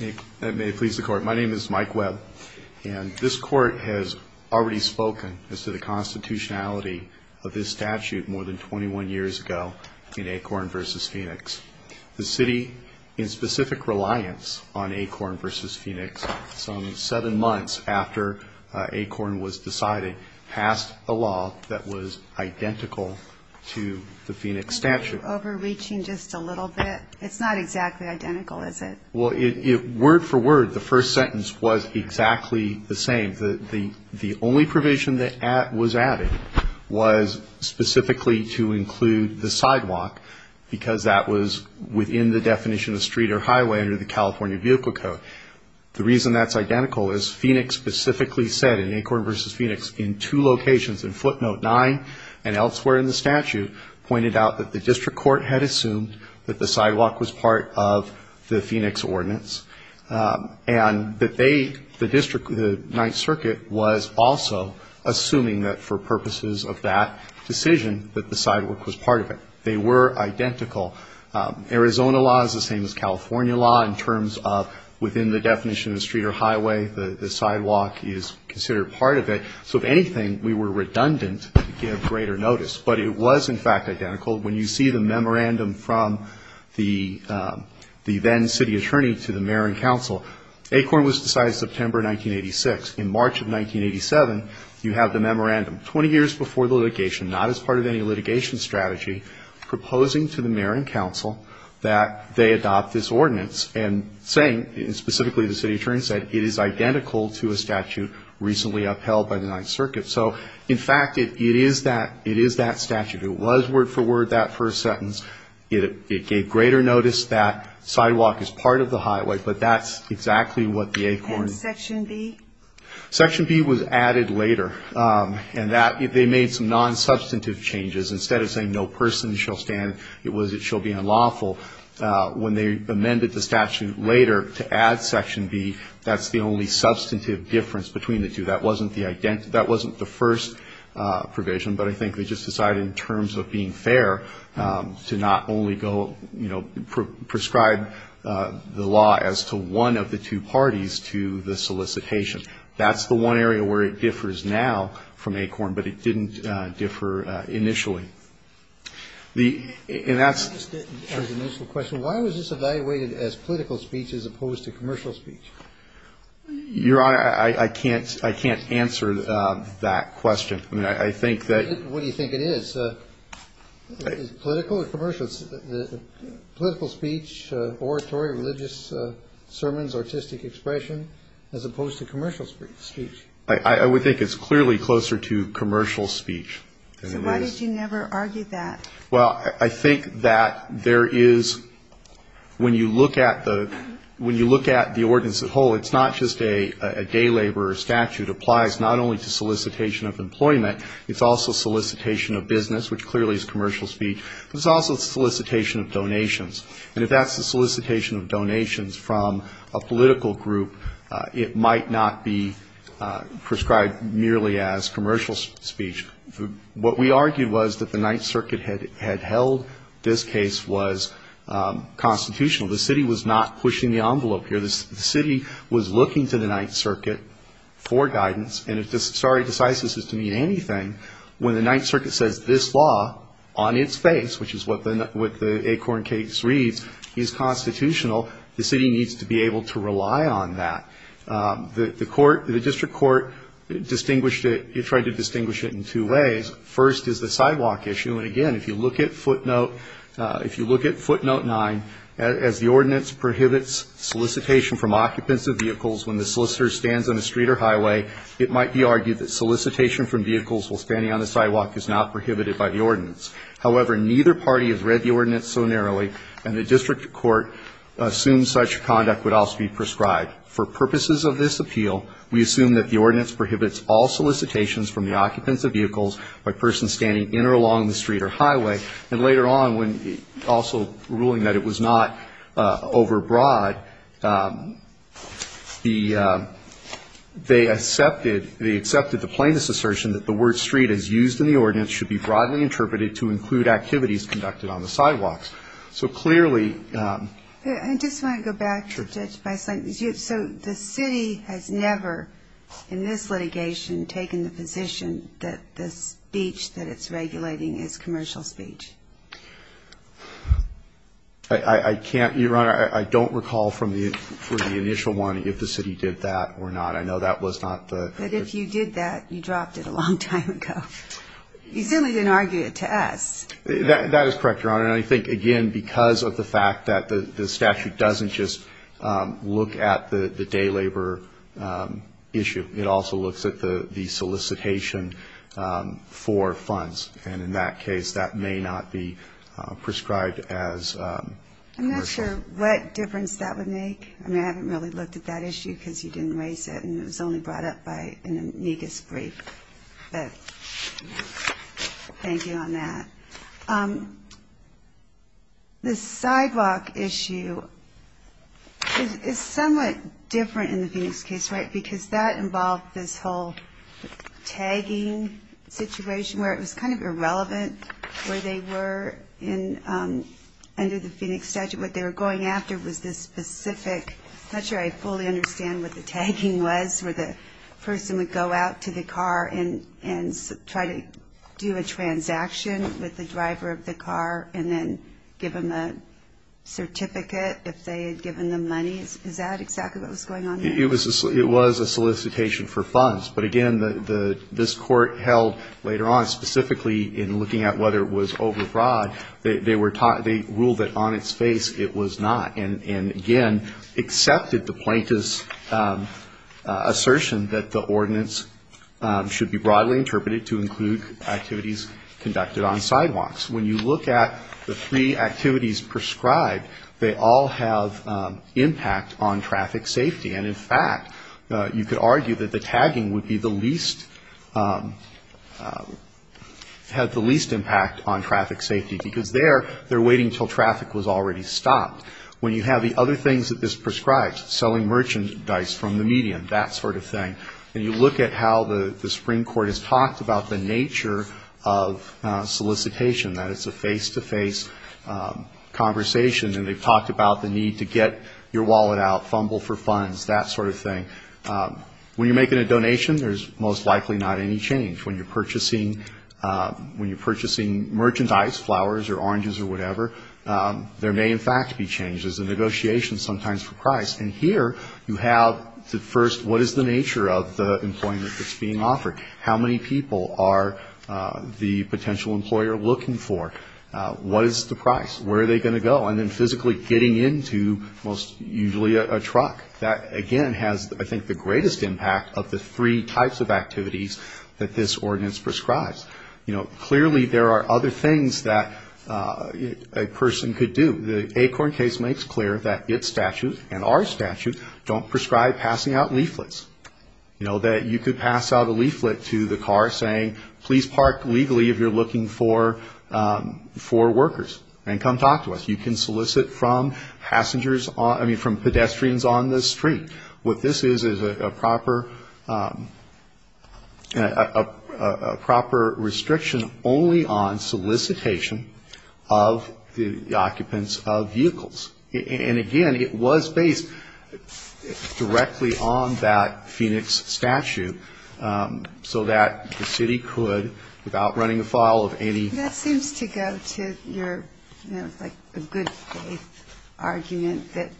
My name is Mike Webb and this court has already spoken as to the constitutionality of this statute more than 21 years ago in Acorn v. Phoenix. The city, in specific reliance on Acorn v. Phoenix, some seven months after Acorn was decided, passed a law that was identical to the Phoenix statute. Are you overreaching just a little bit? It's not exactly identical, is it? Well, word for word, the first sentence was exactly the same. The only provision that was added was specifically to include the sidewalk because that was within the definition of street or highway under the California Vehicle Code. But the reason that's identical is Phoenix specifically said, in Acorn v. Phoenix, in two locations, in footnote 9 and elsewhere in the statute, pointed out that the district court had assumed that the sidewalk was part of the Phoenix ordinance. And that they, the district, the Ninth Circuit, was also assuming that for purposes of that decision that the sidewalk was part of it. They were identical. Arizona law is the same as California law in terms of within the definition of street or highway, the sidewalk is considered part of it. So if anything, we were redundant to give greater notice. But it was, in fact, identical. When you see the memorandum from the then city attorney to the mayor and council, Acorn was decided September 1986. In March of 1987, you have the memorandum, 20 years before the litigation, not as part of any litigation strategy, proposing to the mayor and council that they adopt this ordinance and saying, and specifically the city attorney said, it is identical to a statute recently upheld by the Ninth Circuit. So, in fact, it is that statute. It was word for word that first sentence. It gave greater notice that sidewalk is part of the highway, but that's exactly what the Acorn. And Section B? Section B was added later. And that, they made some non-substantive changes. Instead of saying no person shall stand, it was it shall be unlawful. When they amended the statute later to add Section B, that's the only substantive difference between the two. That wasn't the first provision, but I think they just decided in terms of being fair to not only go, you know, prescribe the law as to one of the two parties to the solicitation. That's the one area where it differs now from Acorn, but it didn't differ initially. And that's the question. Why was this evaluated as political speech as opposed to commercial speech? Your Honor, I can't answer that question. I mean, I think that. What do you think it is? Political or commercial? Political speech, oratory, religious sermons, artistic expression, as opposed to commercial speech. I would think it's clearly closer to commercial speech. So why did you never argue that? Well, I think that there is, when you look at the, when you look at the ordinance as a whole, it's not just a day laborer statute applies not only to solicitation of employment, it's also solicitation of business, which clearly is commercial speech, but it's also solicitation of donations. And if that's the solicitation of donations from a political group, it might not be prescribed merely as commercial speech. What we argued was that the Ninth Circuit had held this case was constitutional. The city was not pushing the envelope here. The city was looking to the Ninth Circuit for guidance. And if sorry decisis is to mean anything, when the Ninth Circuit says this law on its face, which is what the Acorn case reads, is constitutional, the city needs to be able to rely on that. The court, the district court distinguished it, tried to distinguish it in two ways. First is the sidewalk issue. And, again, if you look at footnote, if you look at footnote nine, as the ordinance prohibits solicitation from occupants of vehicles when the solicitor stands on a street or highway, it might be argued that solicitation from vehicles while standing on the sidewalk is not prohibited by the ordinance. However, neither party has read the ordinance so narrowly, and the district court assumes such conduct would also be prescribed. For purposes of this appeal, we assume that the ordinance prohibits all solicitations from the occupants of vehicles by persons standing in or along the street or highway. And later on, when also ruling that it was not overbroad, the they accepted, they accepted the plaintiff's assertion that the word street as used in the ordinance should be broadly interpreted to include activities conducted on the sidewalks. So clearly. I just want to go back to Judge Bisling. So the city has never, in this litigation, taken the position that the speech that it's regulating is commercial speech? I can't, Your Honor. I don't recall from the initial one if the city did that or not. I know that was not the. But if you did that, you dropped it a long time ago. You certainly didn't argue it to us. That is correct, Your Honor. And I think, again, because of the fact that the statute doesn't just look at the day labor issue. It also looks at the solicitation for funds. And in that case, that may not be prescribed as commercial. I'm not sure what difference that would make. I mean, I haven't really looked at that issue because you didn't raise it, and it was only brought up by an amicus brief. But thank you on that. The sidewalk issue is somewhat different in the Phoenix case, right, because that involved this whole tagging situation where it was kind of irrelevant where they were under the Phoenix statute. What they were going after was this specific, I'm not sure I fully understand what the tagging was where the person would go out to the car and try to do a transaction with the driver of the car and then give them a certificate if they had given them money. Is that exactly what was going on there? It was a solicitation for funds. But, again, this court held later on, specifically in looking at whether it was overbroad, they ruled that on its face it was not, and again accepted the plaintiff's assertion that the ordinance should be broadly interpreted to include activities conducted on sidewalks. When you look at the three activities prescribed, they all have impact on traffic safety. And, in fact, you could argue that the tagging would be the least, had the least impact on traffic safety because there they're waiting until traffic was already stopped. When you have the other things that this prescribes, selling merchandise from the medium, that sort of thing, and you look at how the Supreme Court has talked about the nature of solicitation, that it's a face-to-face conversation and they've talked about the need to get your wallet out, fumble for funds, that sort of thing. When you're making a donation, there's most likely not any change. When you're purchasing merchandise, flowers or oranges or whatever, there may, in fact, be changes in negotiations sometimes for price. And here you have the first, what is the nature of the employment that's being offered? How many people are the potential employer looking for? What is the price? Where are they going to go? And then physically getting into most usually a truck. That, again, has, I think, the greatest impact of the three types of activities that this ordinance prescribes. You know, clearly there are other things that a person could do. The Acorn case makes clear that its statute and our statute don't prescribe passing out leaflets. You know, that you could pass out a leaflet to the car saying, please park legally if you're looking for workers and come talk to us. You can solicit from passengers, I mean, from pedestrians on the street. What this is is a proper restriction only on solicitation of the occupants of vehicles. And, again, it was based directly on that Phoenix statute so that the city could, without running afoul of any. That seems to go to your, you know, like a good faith argument that,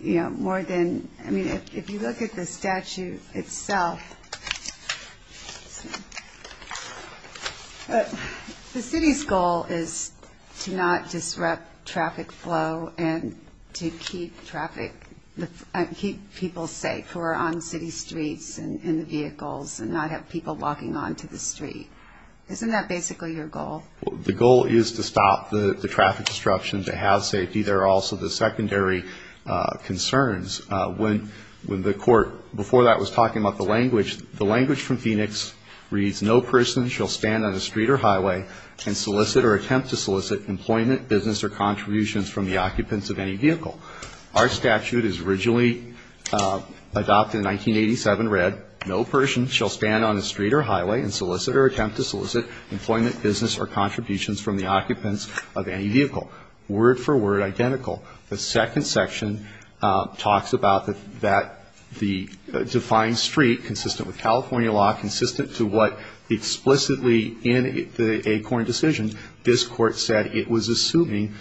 you know, more than, I mean, if you look at the statute itself, the city's goal is to not disrupt traffic flow and to keep traffic and keep people safe who are on city streets and in the vehicles and not have people walking onto the street. Isn't that basically your goal? The goal is to stop the traffic disruption, to have safety. There are also the secondary concerns. When the court, before that was talking about the language, the language from Phoenix reads, no person shall stand on a street or highway and solicit or attempt to solicit employment, business, or contributions from the occupants of any vehicle. Our statute is originally adopted in 1987, read, no person shall stand on a street or highway and solicit or attempt to solicit employment, business, or contributions from the occupants of any vehicle. Word for word identical. The second section talks about that the defined street, consistent with California law, consistent to what explicitly in the ACORN decision, this court said it was assuming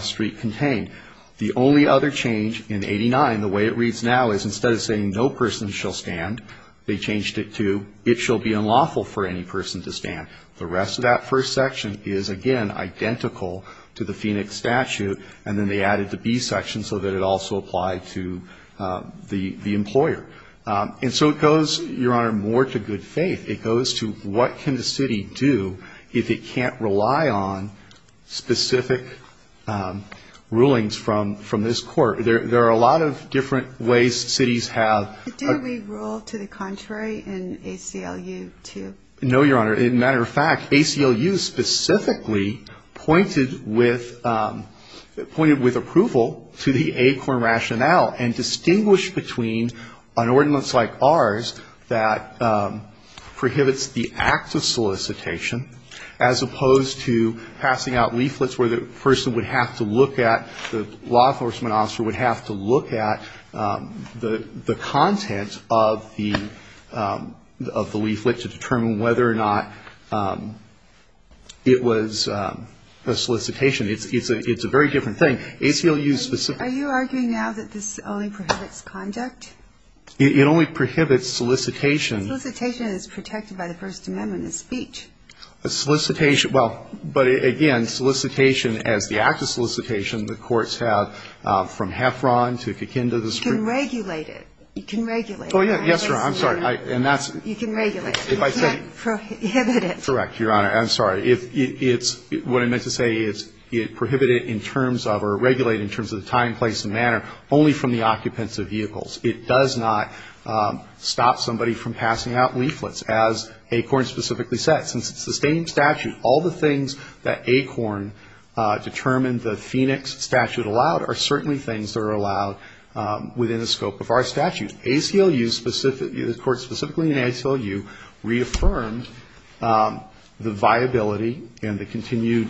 street contained. The only other change in 89, the way it reads now, is instead of saying no person shall stand, they changed it to it shall be unlawful for any person to stand. The rest of that first section is, again, identical to the Phoenix statute, and then they added the B section so that it also applied to the employer. And so it goes, Your Honor, more to good faith. It goes to what can the city do if it can't rely on specific rulings from this court. There are a lot of different ways cities have. Do we rule to the contrary in ACLU too? No, Your Honor. As a matter of fact, ACLU specifically pointed with approval to the ACORN rationale and distinguished between an ordinance like ours that prohibits the act of solicitation as opposed to passing out leaflets where the person would have to look at, the law enforcement officer would have to look at the content of the leaflet to determine whether or not it was a solicitation. It's a very different thing. ACLU specifically ---- Are you arguing now that this only prohibits conduct? It only prohibits solicitation. Solicitation is protected by the First Amendment in speech. Solicitation, well, but again, solicitation as the act of solicitation, the courts have from Heffron to Kikinda, the street. You can regulate it. You can regulate it. Oh, yes, Your Honor. I'm sorry. And that's ---- You can regulate it. You can't prohibit it. Correct, Your Honor. I'm sorry. It's what I meant to say. It's prohibited in terms of or regulated in terms of the time, place and manner only from the occupants of vehicles. It does not stop somebody from passing out leaflets as ACORN specifically said. Since it's the same statute, all the things that ACORN determined the Phoenix statute allowed are certainly things that are allowed within the scope of our statute. ACLU specifically ---- The court specifically in ACLU reaffirmed the viability and the continued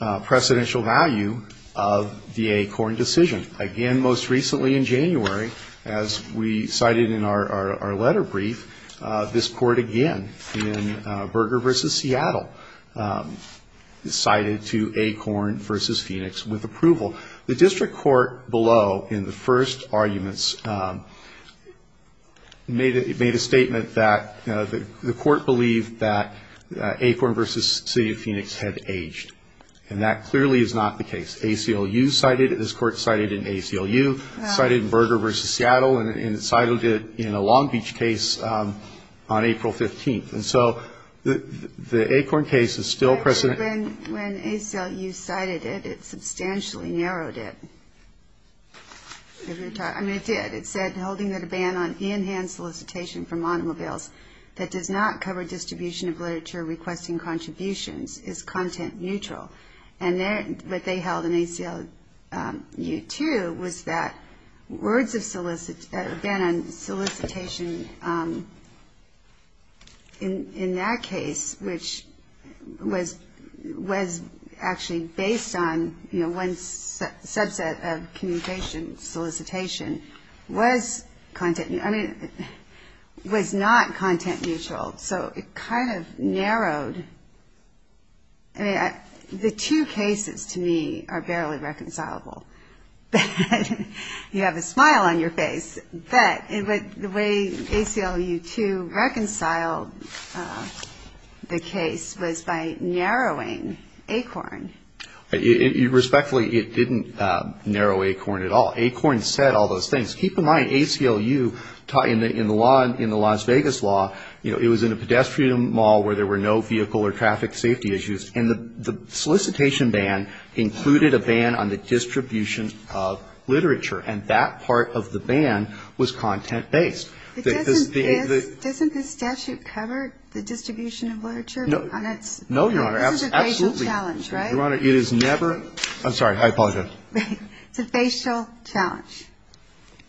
precedential value of the ACORN decision. Again, most recently in January, as we cited in our letter brief, this court again in Berger v. Seattle cited to ACORN v. Phoenix with approval. The district court below in the first arguments made a statement that the court believed that ACORN v. City of Phoenix had aged. And that clearly is not the case. ACLU cited it. This court cited in ACLU, cited in Berger v. Seattle and cited it in a Long Island case on July 15th. And so the ACORN case is still precedent. Actually, when ACLU cited it, it substantially narrowed it. I mean, it did. It said holding that a ban on in-hand solicitation from automobiles that does not cover distribution of literature requesting contributions is content neutral. And what they held in ACLU too was that words of solicitation, a ban on in-hand solicitation in that case, which was actually based on one subset of communication solicitation, was not content neutral. So it kind of narrowed. I mean, the two cases to me are barely reconcilable. You have a smile on your face. But the way ACLU too reconciled the case was by narrowing ACORN. Respectfully, it didn't narrow ACORN at all. ACORN said all those things. Keep in mind, ACLU in the Las Vegas law, it was in a pedestrian mall where there were no vehicle or traffic safety issues. And the solicitation ban included a ban on the distribution of literature. And that part of the ban was content-based. Because the — Doesn't this statute cover the distribution of literature on its — No, Your Honor. Absolutely. This is a facial challenge, right? Your Honor, it is never — I'm sorry. I apologize. It's a facial challenge.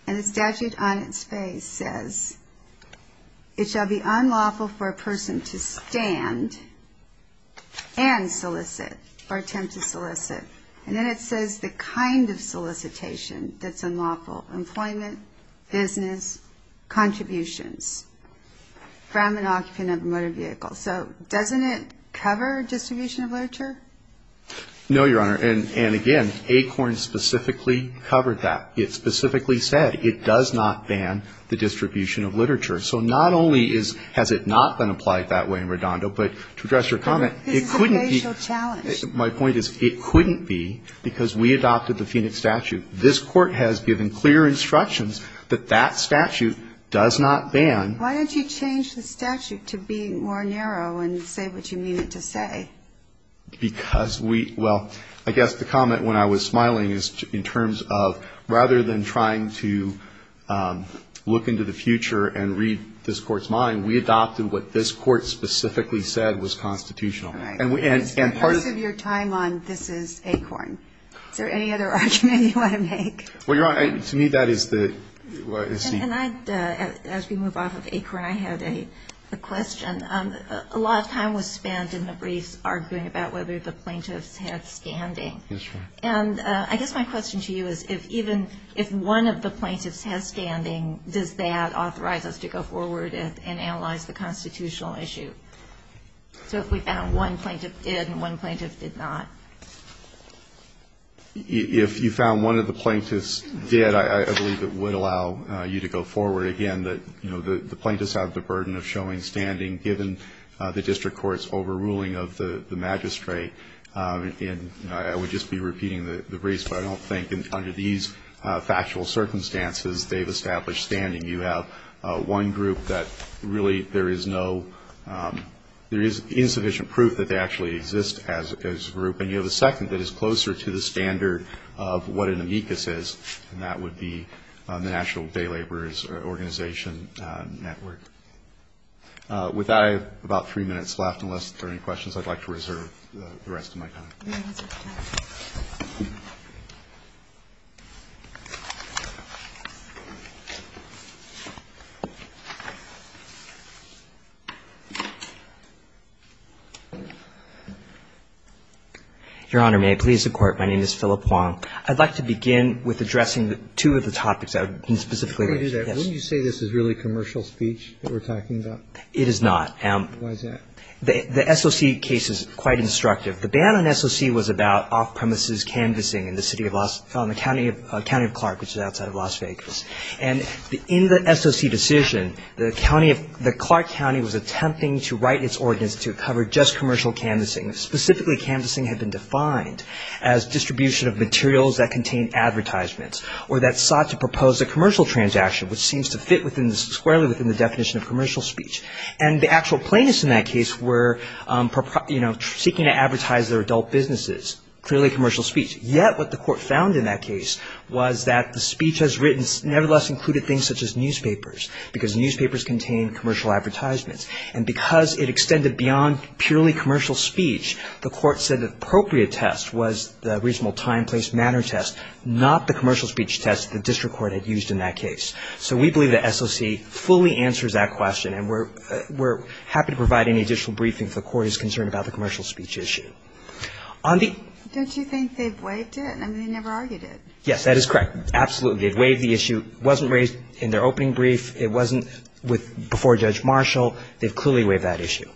And the statute on its face says, it shall be unlawful for a person to stand and solicit or attempt to solicit. And then it says the kind of solicitation that's unlawful, employment, business, contributions from an occupant of a motor vehicle. So doesn't it cover distribution of literature? No, Your Honor. And again, ACORN specifically covered that. It specifically said it does not ban the distribution of literature. So not only has it not been applied that way in Redondo, but to address your comment, it couldn't be — This is a facial challenge. My point is it couldn't be because we adopted the Phoenix statute. This Court has given clear instructions that that statute does not ban — Why don't you change the statute to be more narrow and say what you mean it to say? Because we — well, I guess the comment when I was smiling is in terms of, rather than trying to look into the future and read this Court's mind, we adopted what this Court specifically said was constitutional. And part of — And the rest of your time on this is ACORN. Is there any other argument you want to make? Well, Your Honor, to me that is the — And I — as we move off of ACORN, I had a question. A lot of time was spent in the briefs arguing about whether the plaintiffs had standing. Yes, Your Honor. And I guess my question to you is if even — if one of the plaintiffs has standing, does that authorize us to go forward and analyze the constitutional issue? So if we found one plaintiff did and one plaintiff did not. If you found one of the plaintiffs did, I believe it would allow you to go forward. Again, the plaintiffs have the burden of showing standing given the district court's overruling of the magistrate. And I would just be repeating the briefs, but I don't think under these factual circumstances they've established standing. You have one group that really there is no — there is insufficient proof that they actually exist as a group. And you have a second that is closer to the standard of what an amicus is, and that would be the National Day Laborers Organization Network. With I have about three minutes left, unless there are any questions, I'd like to reserve the rest of my time. Your Honor, may I please the Court? My name is Philip Huang. I'd like to begin with addressing two of the topics I've been specifically raising. Wouldn't you say this is really commercial speech that we're talking about? It is not. Why is that? The SOC case is quite instructive. The ban on SOC was about off-premises canvassing in the city of — in the county of Clark, which is outside of Las Vegas. And in the SOC decision, the county of — the Clark County was attempting to write its ordinance to cover just commercial canvassing. Specifically, canvassing had been defined as distribution of materials that contained advertisements or that sought to propose a commercial transaction, which seems to fit within — squarely within the definition of commercial speech. And the actual plaintiffs in that case were, you know, seeking to advertise their adult businesses, clearly commercial speech. Yet what the Court found in that case was that the speech as written nevertheless included things such as newspapers, because newspapers contain commercial advertisements. And because it extended beyond purely commercial speech, the Court said the appropriate test was the reasonable time, place, manner test, not the commercial speech test the district court had used in that case. So we believe the SOC fully answers that question. And we're happy to provide any additional briefing if the Court is concerned about the commercial speech issue. On the — Don't you think they've waived it? I mean, they never argued it. Yes, that is correct. Absolutely. They've waived the issue. It wasn't raised in their opening brief. It wasn't with — before Judge Marshall. They've clearly waived that issue.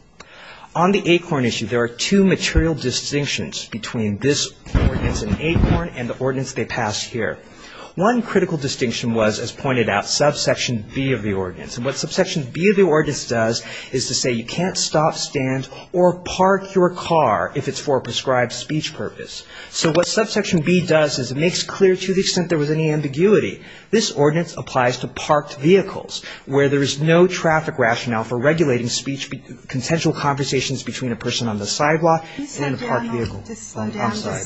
On the ACORN issue, there are two material distinctions between this ordinance and ACORN and the ordinance they passed here. One critical distinction was, as pointed out, subsection B of the ordinance. And what subsection B of the ordinance does is to say you can't stop, stand, or park your car if it's for a prescribed speech purpose. So what subsection B does is it makes clear to the extent there was any ambiguity. This ordinance applies to parked vehicles, where there is no traffic rationale for regulating speech, consensual conversations between a person on the sidewalk and a parked vehicle. Can you slow down? I'm sorry.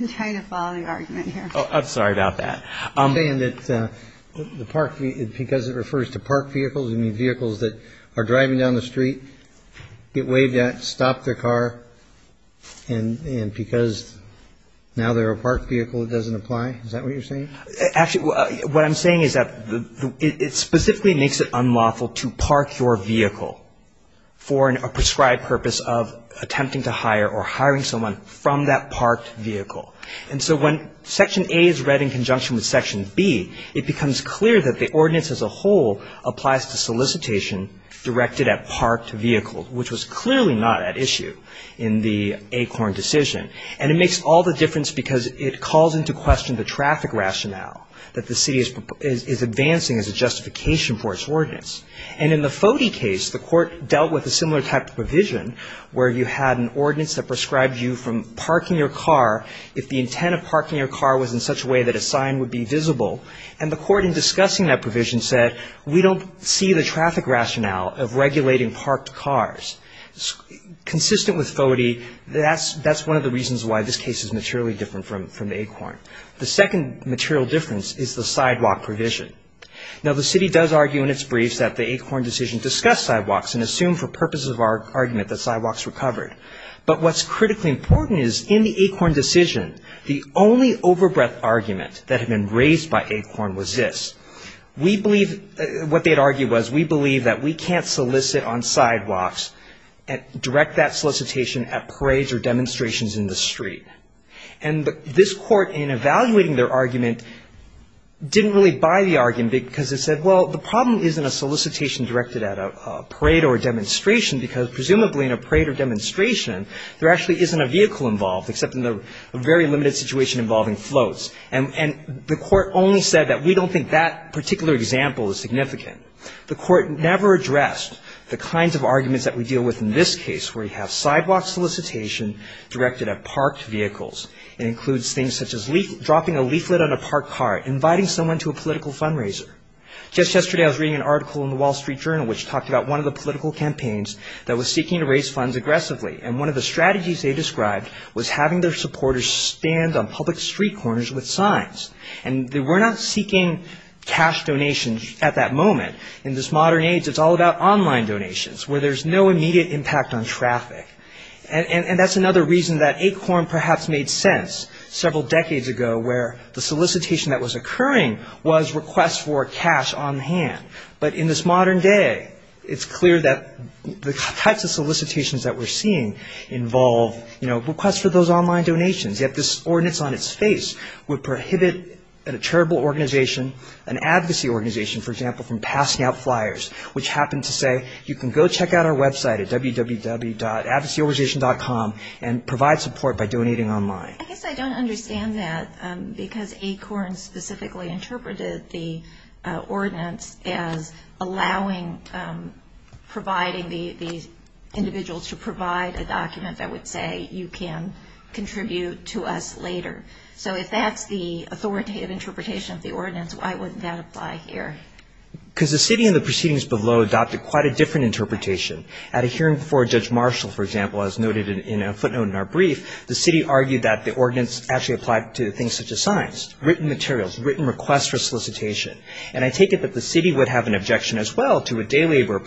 I'm trying to follow the argument here. I'm sorry about that. You're saying that the park — because it refers to parked vehicles, you mean vehicles that are driving down the street, get waived at, stop their car, and because now they're a parked vehicle, it doesn't apply? Is that what you're saying? Actually, what I'm saying is that it specifically makes it unlawful to park your vehicle for a prescribed purpose of attempting to hire or hiring someone from that parked vehicle. And so when Section A is read in conjunction with Section B, it becomes clear that the ordinance as a whole applies to solicitation directed at parked vehicles, which was clearly not at issue in the ACORN decision. And it makes all the difference because it calls into question the traffic rationale that the city is advancing as a justification for its ordinance. And in the FODE case, the court dealt with a similar type of provision, where you had an ordinance that prescribed you from parking your car if the intent of parking your car was in such a way that a sign would be visible. And the court in discussing that provision said, we don't see the traffic rationale of regulating parked cars. Consistent with FODE, that's one of the reasons why this case is materially different from ACORN. The second material difference is the sidewalk provision. Now, the city does argue in its briefs that the ACORN decision discussed sidewalks and assumed for purposes of argument that sidewalks were covered. But what's critically important is in the ACORN decision, the only overbreadth argument that had been raised by ACORN was this. We believe what they had argued was we believe that we can't solicit on sidewalks and direct that solicitation at parades or demonstrations in the street. And this court, in evaluating their argument, didn't really buy the argument because it said, well, the problem isn't a solicitation directed at a parade or a demonstration, because presumably in a parade or demonstration, there actually isn't a vehicle involved, except in the very limited situation involving floats. And the court only said that we don't think that particular example is significant. The court never addressed the kinds of arguments that we deal with in this case, where you have sidewalk solicitation directed at parked vehicles. It includes things such as dropping a leaflet on a parked car, inviting someone to a political fundraiser. Just yesterday, I was reading an article in the Wall Street Journal, which talked about one of the political campaigns that was seeking to raise funds aggressively. And one of the strategies they described was having their supporters stand on public street corners with signs. And they were not seeking cash donations at that moment. In this modern age, it's all about online donations, where there's no immediate impact on traffic. And that's another reason that ACORN perhaps made sense several decades ago, where the solicitation that was occurring was requests for cash on hand. But in this modern day, it's clear that the types of solicitations that we're seeing involve requests for those online donations. Yet this ordinance on its face would prohibit a charitable organization, an advocacy organization, for example, from passing out flyers, which happen to say, you can go check out our website at www.advocacyorganization.com and provide support by donating online. I guess I don't understand that, because ACORN specifically interpreted the ordinance as allowing providing the individuals to provide a document that would say you can contribute to us later. So if that's the authoritative interpretation of the ordinance, why wouldn't that apply here? Because the city in the proceedings below adopted quite a different interpretation. At a hearing before Judge Marshall, for example, as noted in a footnote in our brief, the city argued that the ordinance actually applied to things such as signs, written materials, written requests for solicitation. And I take it that the city would have an objection as well to a day laborer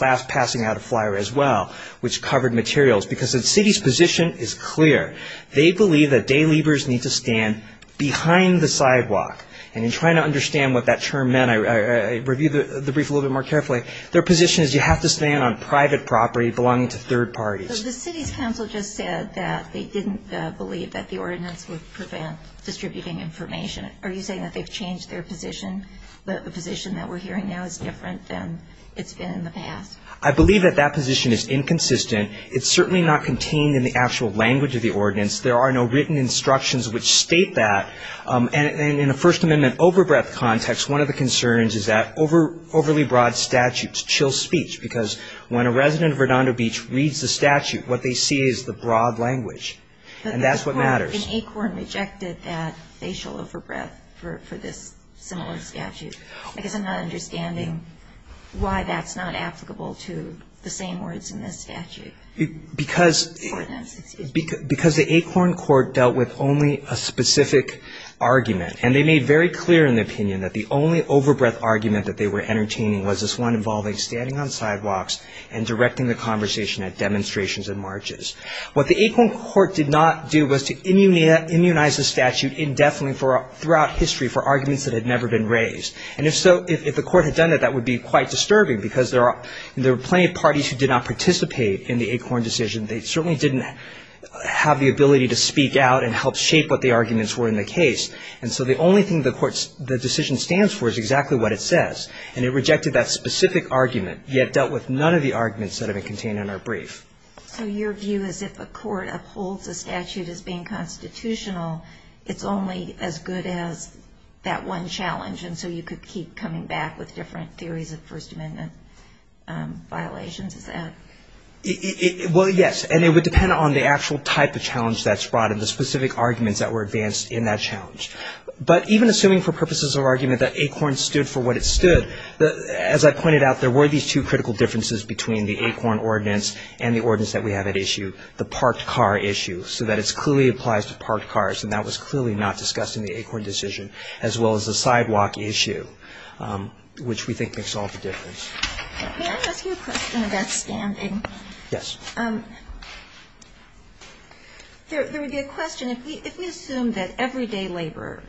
passing out a flyer as well, which covered materials, because the city's position is clear. They believe that day laborers need to stand behind the sidewalk. And in trying to understand what that term meant, I reviewed the brief a little bit more carefully. Their position is you have to stand on private property belonging to third parties. The city's council just said that they didn't believe that the ordinance would prevent distributing information. Are you saying that they've changed their position, that the position that we're hearing now is different than it's been in the past? I believe that that position is inconsistent. It's certainly not contained in the actual language of the ordinance. There are no written instructions which state that. And in a First Amendment overbreadth context, one of the concerns is that overly broad statutes chill speech, because when a resident of Redondo Beach reads the statute, what they see is the broad language. And that's what matters. An ACORN rejected that facial overbreadth for this similar statute. I guess I'm not understanding why that's not applicable to the same words in this statute. Because the ACORN court dealt with only a specific argument. And they made very clear in the opinion that the only overbreadth argument that they were entertaining was this one involving standing on sidewalks and directing the conversation at demonstrations and marches. What the ACORN court did not do was to immunize the statute indefinitely throughout history for arguments that had never been raised. And if the court had done that, that would be quite disturbing, because there were plenty of parties who did not participate in the ACORN decision. They certainly didn't have the ability to speak out and help shape what the arguments were in the case. And so the only thing the decision stands for is exactly what it says. And it rejected that specific argument, yet dealt with none of the arguments that have been contained in our brief. So your view is if a court upholds a statute as being constitutional, it's only as good as that one challenge, and so you could keep coming back with different theories of First Amendment violations, is that? Well, yes. And it would depend on the actual type of challenge that's brought and the specific arguments that were advanced in that challenge. But even assuming for purposes of argument that ACORN stood for what it stood, as I pointed out, there were these two critical differences between the ACORN ordinance and the ordinance that we have at issue, the parked car issue, so that it clearly applies to parked cars, and that was clearly not discussed in the ACORN decision, as well as the sidewalk issue, which we think makes all the difference. May I ask you a question about standing? Yes. There would be a question. If we assume that everyday labor,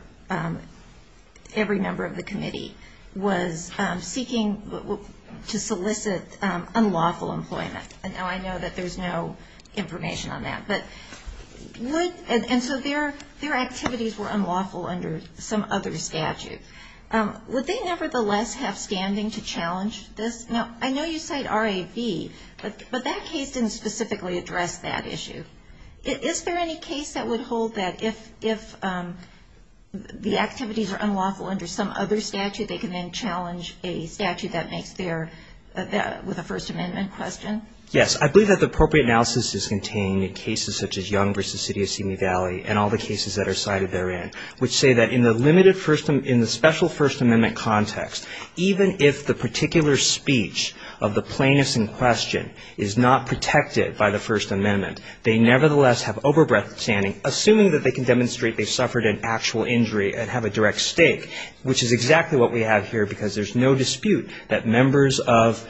every member of the committee, was seeking to solicit unlawful employment, and now I know that there's no information on that, and so their activities were unlawful under some other statute, would they nevertheless have standing to challenge this? Now, I know you cite RAB, but that case didn't specifically address that issue. Is there any case that would hold that if the activities are unlawful under some other statute, they can then challenge a statute that makes their, with a First Amendment question? Yes. I believe that the appropriate analysis is contained in cases such as Young v. City of Simi Valley and all the cases that are cited therein, which say that in the limited, in the special First Amendment context, even if the particular speech of the plaintiff in question is not protected by the First Amendment, they nevertheless have over-standing, assuming that they can demonstrate they suffered an actual injury and have a direct stake, which is exactly what we have here, because there's no dispute that members of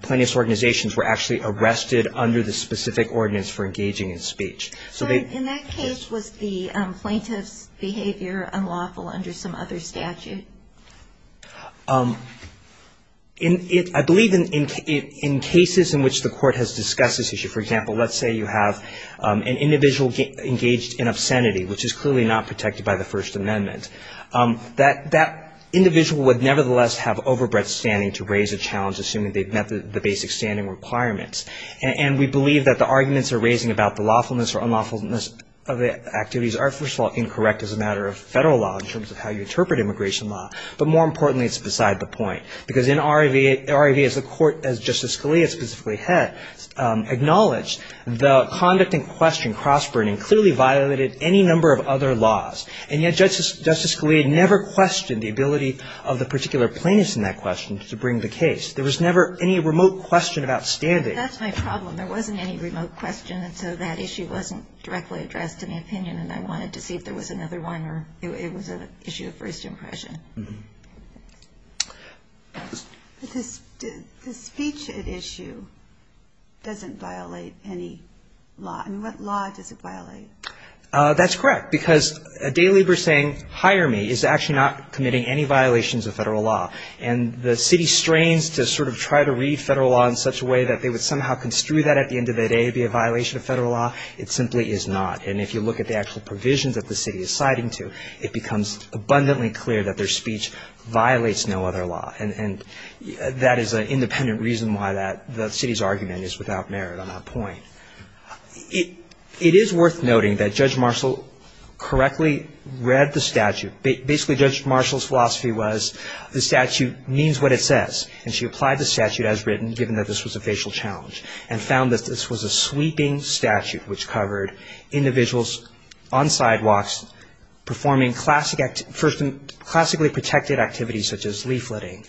plaintiff's organizations were actually arrested under the specific ordinance for engaging in speech. So in that case, was the plaintiff's behavior unlawful under some other statute? I believe in cases in which the Court has discussed this issue, for example, let's say you have an individual engaged in obscenity, which is clearly not protected by the First Amendment. That individual would nevertheless have over-breadth standing to raise a challenge, assuming they've met the basic standing requirements. And we believe that the arguments they're raising about the lawfulness or unlawfulness of the activities are, first of all, incorrect as a matter of federal law in terms of how you interpret immigration law. But more importantly, it's beside the point. Because in RIV, as the Court, as Justice Scalia specifically had acknowledged, the conduct in question, cross-burning, clearly violated any number of other laws. And yet Justice Scalia never questioned the ability of the particular plaintiff in that question to bring the case. There was never any remote question of outstanding. That's my problem. There wasn't any remote question. And so that issue wasn't directly addressed in the opinion. And I wanted to see if there was another one or it was an issue of first impression. But the speech at issue doesn't violate any law. I mean, what law does it violate? That's correct. Because a day laborer saying, hire me, is actually not committing any violations of federal law. And the city strains to sort of try to read federal law in such a way that they would somehow construe that at the end of the day to be a violation of federal law. It simply is not. And if you look at the actual provisions that the city is citing to, it becomes abundantly clear that their speech violates no other law. And that is an independent reason why the city's argument is without merit on that point. It is worth noting that Judge Marshall correctly read the statute. Basically, Judge Marshall's philosophy was the statute means what it says. And she applied the statute as written, given that this was a facial challenge, and found that this was a sweeping statute which covered individuals on sidewalks performing classically protected activities such as leafleting,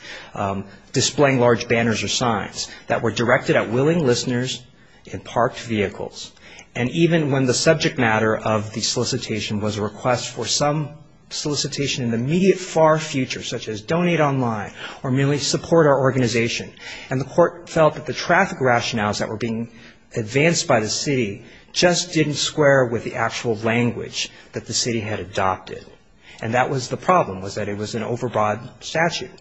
displaying large banners or signs that were directed at willing listeners in parked vehicles. And even when the subject matter of the solicitation was a request for some solicitation in the immediate far future, such as donate online or merely support our organization, and the court felt that the traffic rationales that were being advanced by the city just didn't square with the actual language that the city had adopted. And that was the problem, was that it was an overbroad statute.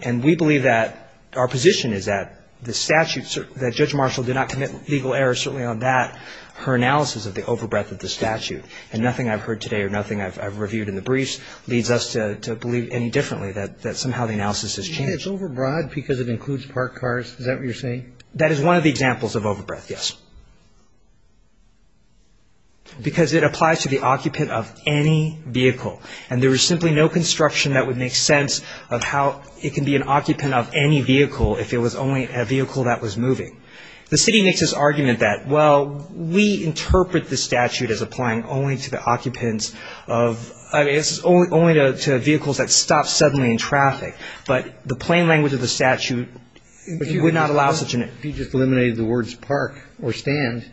And we believe that our position is that the statute, that Judge Marshall did not commit legal errors certainly on that. Her analysis of the overbreadth of the statute, and nothing I've heard today or nothing I've reviewed in the briefs, leads us to believe any differently, that somehow the analysis has changed. It's overbroad because it includes parked cars? Is that what you're saying? That is one of the examples of overbreadth, yes. Because it applies to the occupant of any vehicle. And there is simply no construction that would make sense of how it can be an occupant of any vehicle if it was only a vehicle that was moving. The city makes this argument that, well, we interpret the statute as applying only to the occupants of – I mean, it's only to vehicles that stop suddenly in traffic, but the plain language of the statute, if you would not allow such an – If you just eliminated the words park or stand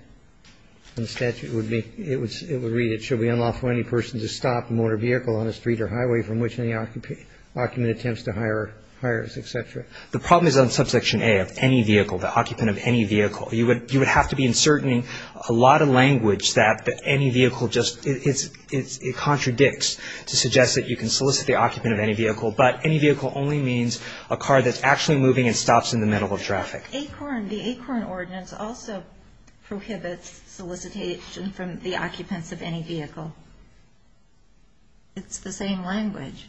in the statute, it would read, it should be unlawful for any person to stop a motor vehicle on a street or highway from which any occupant attempts to hire, hires, et cetera. The problem is on subsection A of any vehicle, the occupant of any vehicle. You would have to be inserting a lot of language that any vehicle just – it contradicts to suggest that you can solicit the occupant of any vehicle, but any vehicle only means a car that's actually moving and stops in the middle of traffic. The ACORN ordinance also prohibits solicitation from the occupants of any vehicle. It's the same language.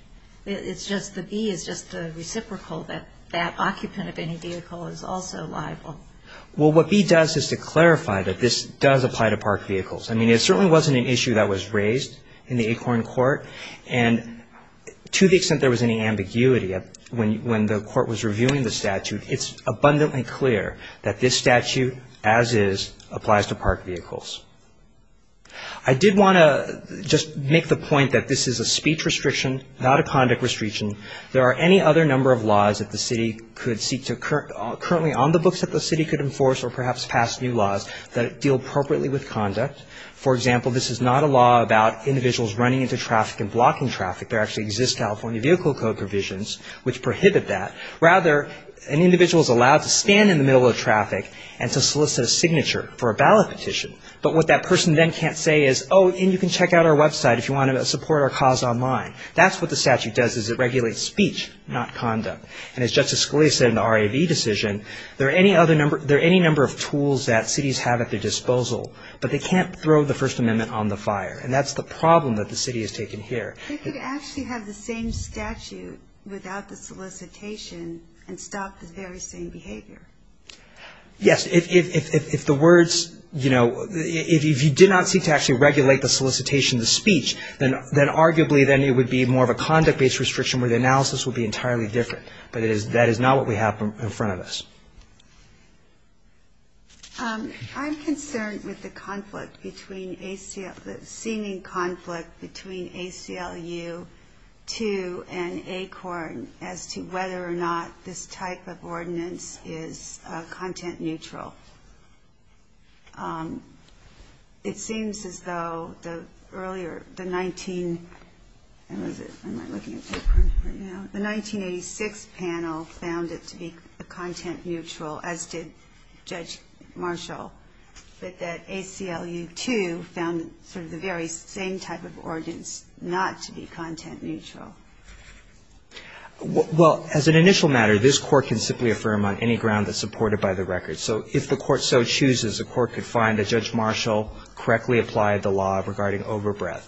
It's just the B is just the reciprocal that that occupant of any vehicle is also liable. Well, what B does is to clarify that this does apply to parked vehicles. I mean, it certainly wasn't an issue that was raised in the ACORN court, and to the extent there was any ambiguity when the court was reviewing the statute, it's abundantly clear that this statute, as is, applies to parked vehicles. I did want to just make the point that this is a speech restriction, not a conduct restriction. There are any other number of laws that the city could seek to – currently on the books that the city could enforce or perhaps pass new laws that deal appropriately with conduct. For example, this is not a law about individuals running into traffic and blocking traffic. There actually exist California Vehicle Code provisions which prohibit that. Rather, an individual is allowed to stand in the middle of traffic and to solicit a signature for a ballot petition. But what that person then can't say is, oh, and you can check out our website if you want to support our cause online. That's what the statute does is it regulates speech, not conduct. And as Justice Scalia said in the RAV decision, there are any number of tools that cities have at their disposal, but they can't throw the First Amendment on the fire, and that's the problem that the city has taken here. They could actually have the same statute without the solicitation and stop the very same behavior. Yes. If the words – if you did not seek to actually regulate the solicitation, the speech, then arguably then it would be more of a conduct-based restriction where the analysis would be entirely different. But that is not what we have in front of us. I'm concerned with the conflict between – the seeming conflict between ACLU and ACORN as to whether or not this type of ordinance is content neutral. It seems as though the earlier – the 19 – when was it? I'm not looking at the print right now. The 1986 panel found it to be content neutral, as did Judge Marshall, but that ACLU too found sort of the very same type of ordinance not to be content neutral. Well, as an initial matter, this Court can simply affirm on any ground that's supported by the record. So if the Court so chooses, the Court could find that Judge Marshall correctly applied the law regarding overbreath.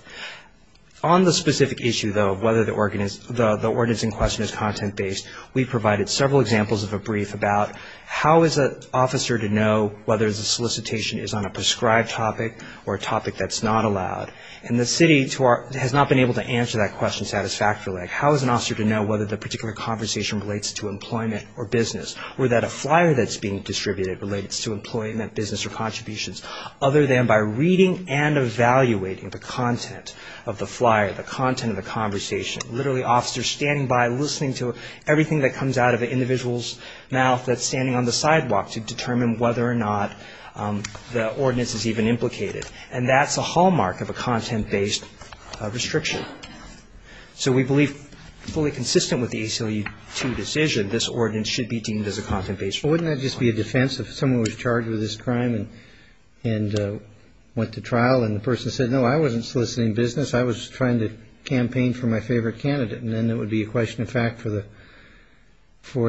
On the specific issue, though, of whether the ordinance in question is content-based, we provided several examples of a brief about how is an officer to know whether the solicitation is on a prescribed topic or a topic that's not allowed, and the city has not been able to answer that question satisfactorily. How is an officer to know whether the particular conversation relates to employment or business, or that a flyer that's being distributed relates to employment, business, or contributions, other than by reading and evaluating the content of the flyer, the content of the conversation. Literally, officers standing by, listening to everything that comes out of an individual's mouth that's standing on the sidewalk to determine whether or not the ordinance is even implicated. And that's a hallmark of a content-based restriction. So we believe fully consistent with the ACLU-2 decision, this ordinance should be deemed as a content-based restriction. But wouldn't that just be a defense if someone was charged with this crime and went to trial and the person said, no, I wasn't soliciting business, I was trying to campaign for my favorite candidate, and then it would be a question of fact for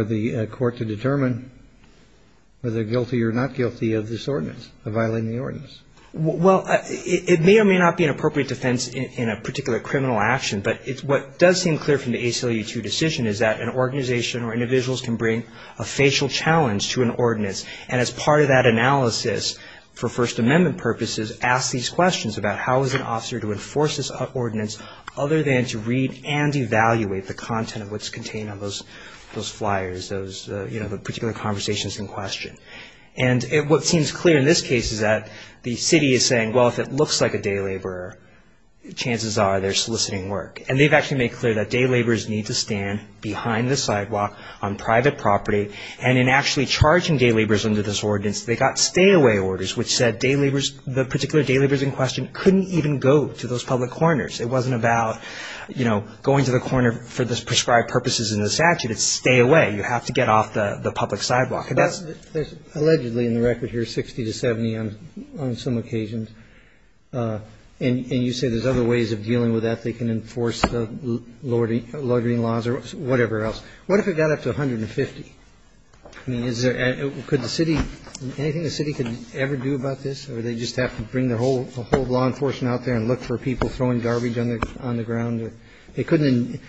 the Court to determine whether they're guilty or not guilty of this ordinance, of violating the ordinance. Well, it may or may not be an appropriate defense in a particular criminal action, but what does seem clear from the ACLU-2 decision is that an organization or individuals can bring a facial challenge to an ordinance. And as part of that analysis, for First Amendment purposes, ask these questions about how is an officer to enforce this ordinance other than to read and evaluate the content of what's contained on those flyers, those particular conversations in question. And what seems clear in this case is that the city is saying, well, if it looks like a day laborer, chances are they're soliciting work. And they've actually made clear that day laborers need to stand behind the sidewalk on private property. And in actually charging day laborers under this ordinance, they got stay-away orders, which said the particular day laborers in question couldn't even go to those public corners. It wasn't about, you know, going to the corner for the prescribed purposes in the statute. It's stay away. You have to get off the public sidewalk. And that's allegedly in the record here 60 to 70 on some occasions. And you say there's other ways of dealing with that. They can enforce the loitering laws or whatever else. What if it got up to 150? I mean, could the city, anything the city could ever do about this? Or do they just have to bring the whole law enforcement out there and look for people throwing garbage on the ground? They couldn't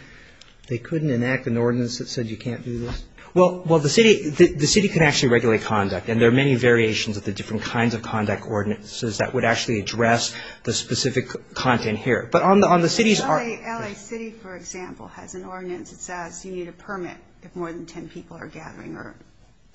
enact an ordinance that said you can't do this? Well, the city can actually regulate conduct. And there are many variations of the different kinds of conduct ordinances that would actually address the specific content here. But on the city's part. LA City, for example, has an ordinance that says you need a permit if more than ten people are gathering or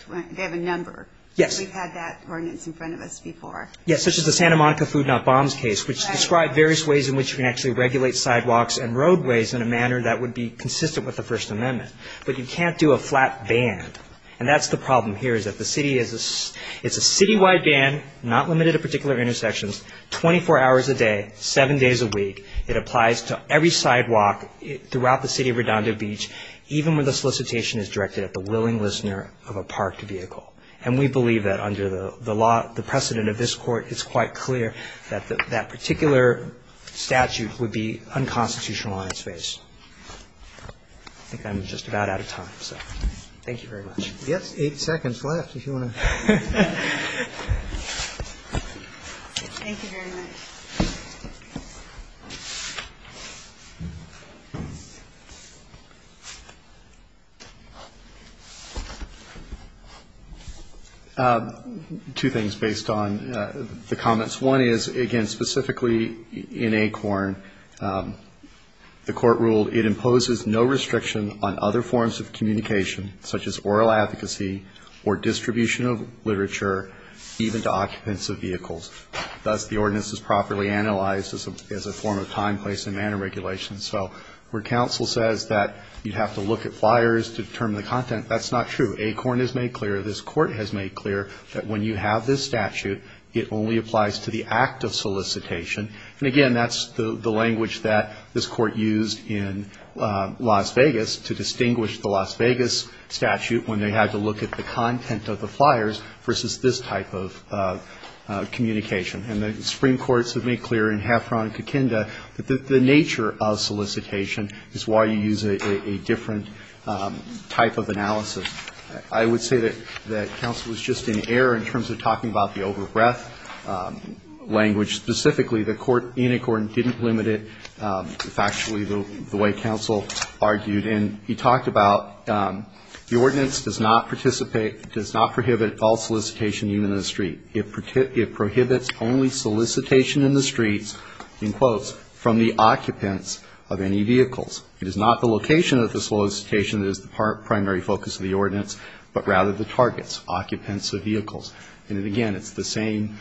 they have a number. We've had that ordinance in front of us before. Yes, such as the Santa Monica Food Not Bombs case, which described various ways in which you can actually regulate sidewalks and roadways in a manner that would be consistent with the First Amendment. But you can't do a flat band. And that's the problem here is that the city is a citywide band, not limited to particular intersections, 24 hours a day, seven days a week. It applies to every sidewalk throughout the city of Redondo Beach, even when the solicitation is directed at the willing listener of a parked vehicle. And we believe that under the precedent of this court, it's quite clear that that particular statute would be unconstitutional on its face. I think I'm just about out of time, so thank you very much. Yes, eight seconds left if you want to. Thank you very much. Two things based on the comments. One is, again, specifically in ACORN, the court ruled it imposes no restriction on other forms of communication, such as oral advocacy or distribution of literature, even to occupants of vehicles. Thus, the ordinance is properly analyzed as a form of time, place and manner regulation. So where counsel says that you have to look at flyers to determine the content, that's not true. ACORN has made clear, this court has made clear, that when you have this statute, it only applies to the act of solicitation. And, again, that's the language that this court used in Las Vegas to distinguish the Las Vegas statute when they had to look at the content of the flyers versus this type of communication. And the Supreme Court has made clear in Heffron and Kikinda that the nature of solicitation is why you use a different type of analysis. I would say that counsel was just in error in terms of talking about the over-breath language, and specifically that ACORN didn't limit it factually the way counsel argued. And he talked about the ordinance does not participate, does not prohibit all solicitation even in the street. It prohibits only solicitation in the streets, in quotes, from the occupants of any vehicles. It is not the location of the solicitation that is the primary focus of the ordinance, but rather the targets, occupants of vehicles. And, again, it's the same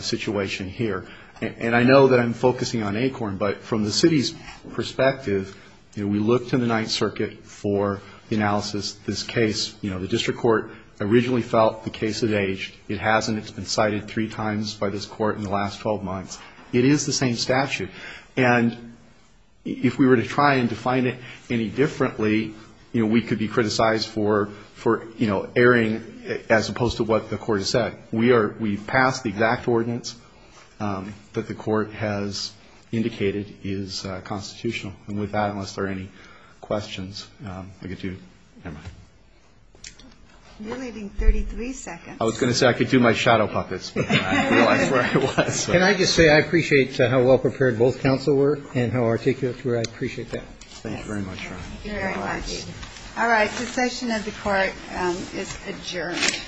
situation here. And I know that I'm focusing on ACORN, but from the city's perspective, we looked in the Ninth Circuit for analysis. This case, you know, the district court originally felt the case had aged. It hasn't. It's been cited three times by this court in the last 12 months. It is the same statute. And if we were to try and define it any differently, you know, we could be criticized for, you know, erring as opposed to what the court has said. We passed the exact ordinance that the court has indicated is constitutional. And with that, unless there are any questions, I'll get to you. Never mind. You're leaving 33 seconds. I was going to say I could do my shadow puppets, but I realized where I was. Can I just say I appreciate how well prepared both counsel were and how articulate you were? I appreciate that. Thank you very much. All right. The session of the court is adjourned.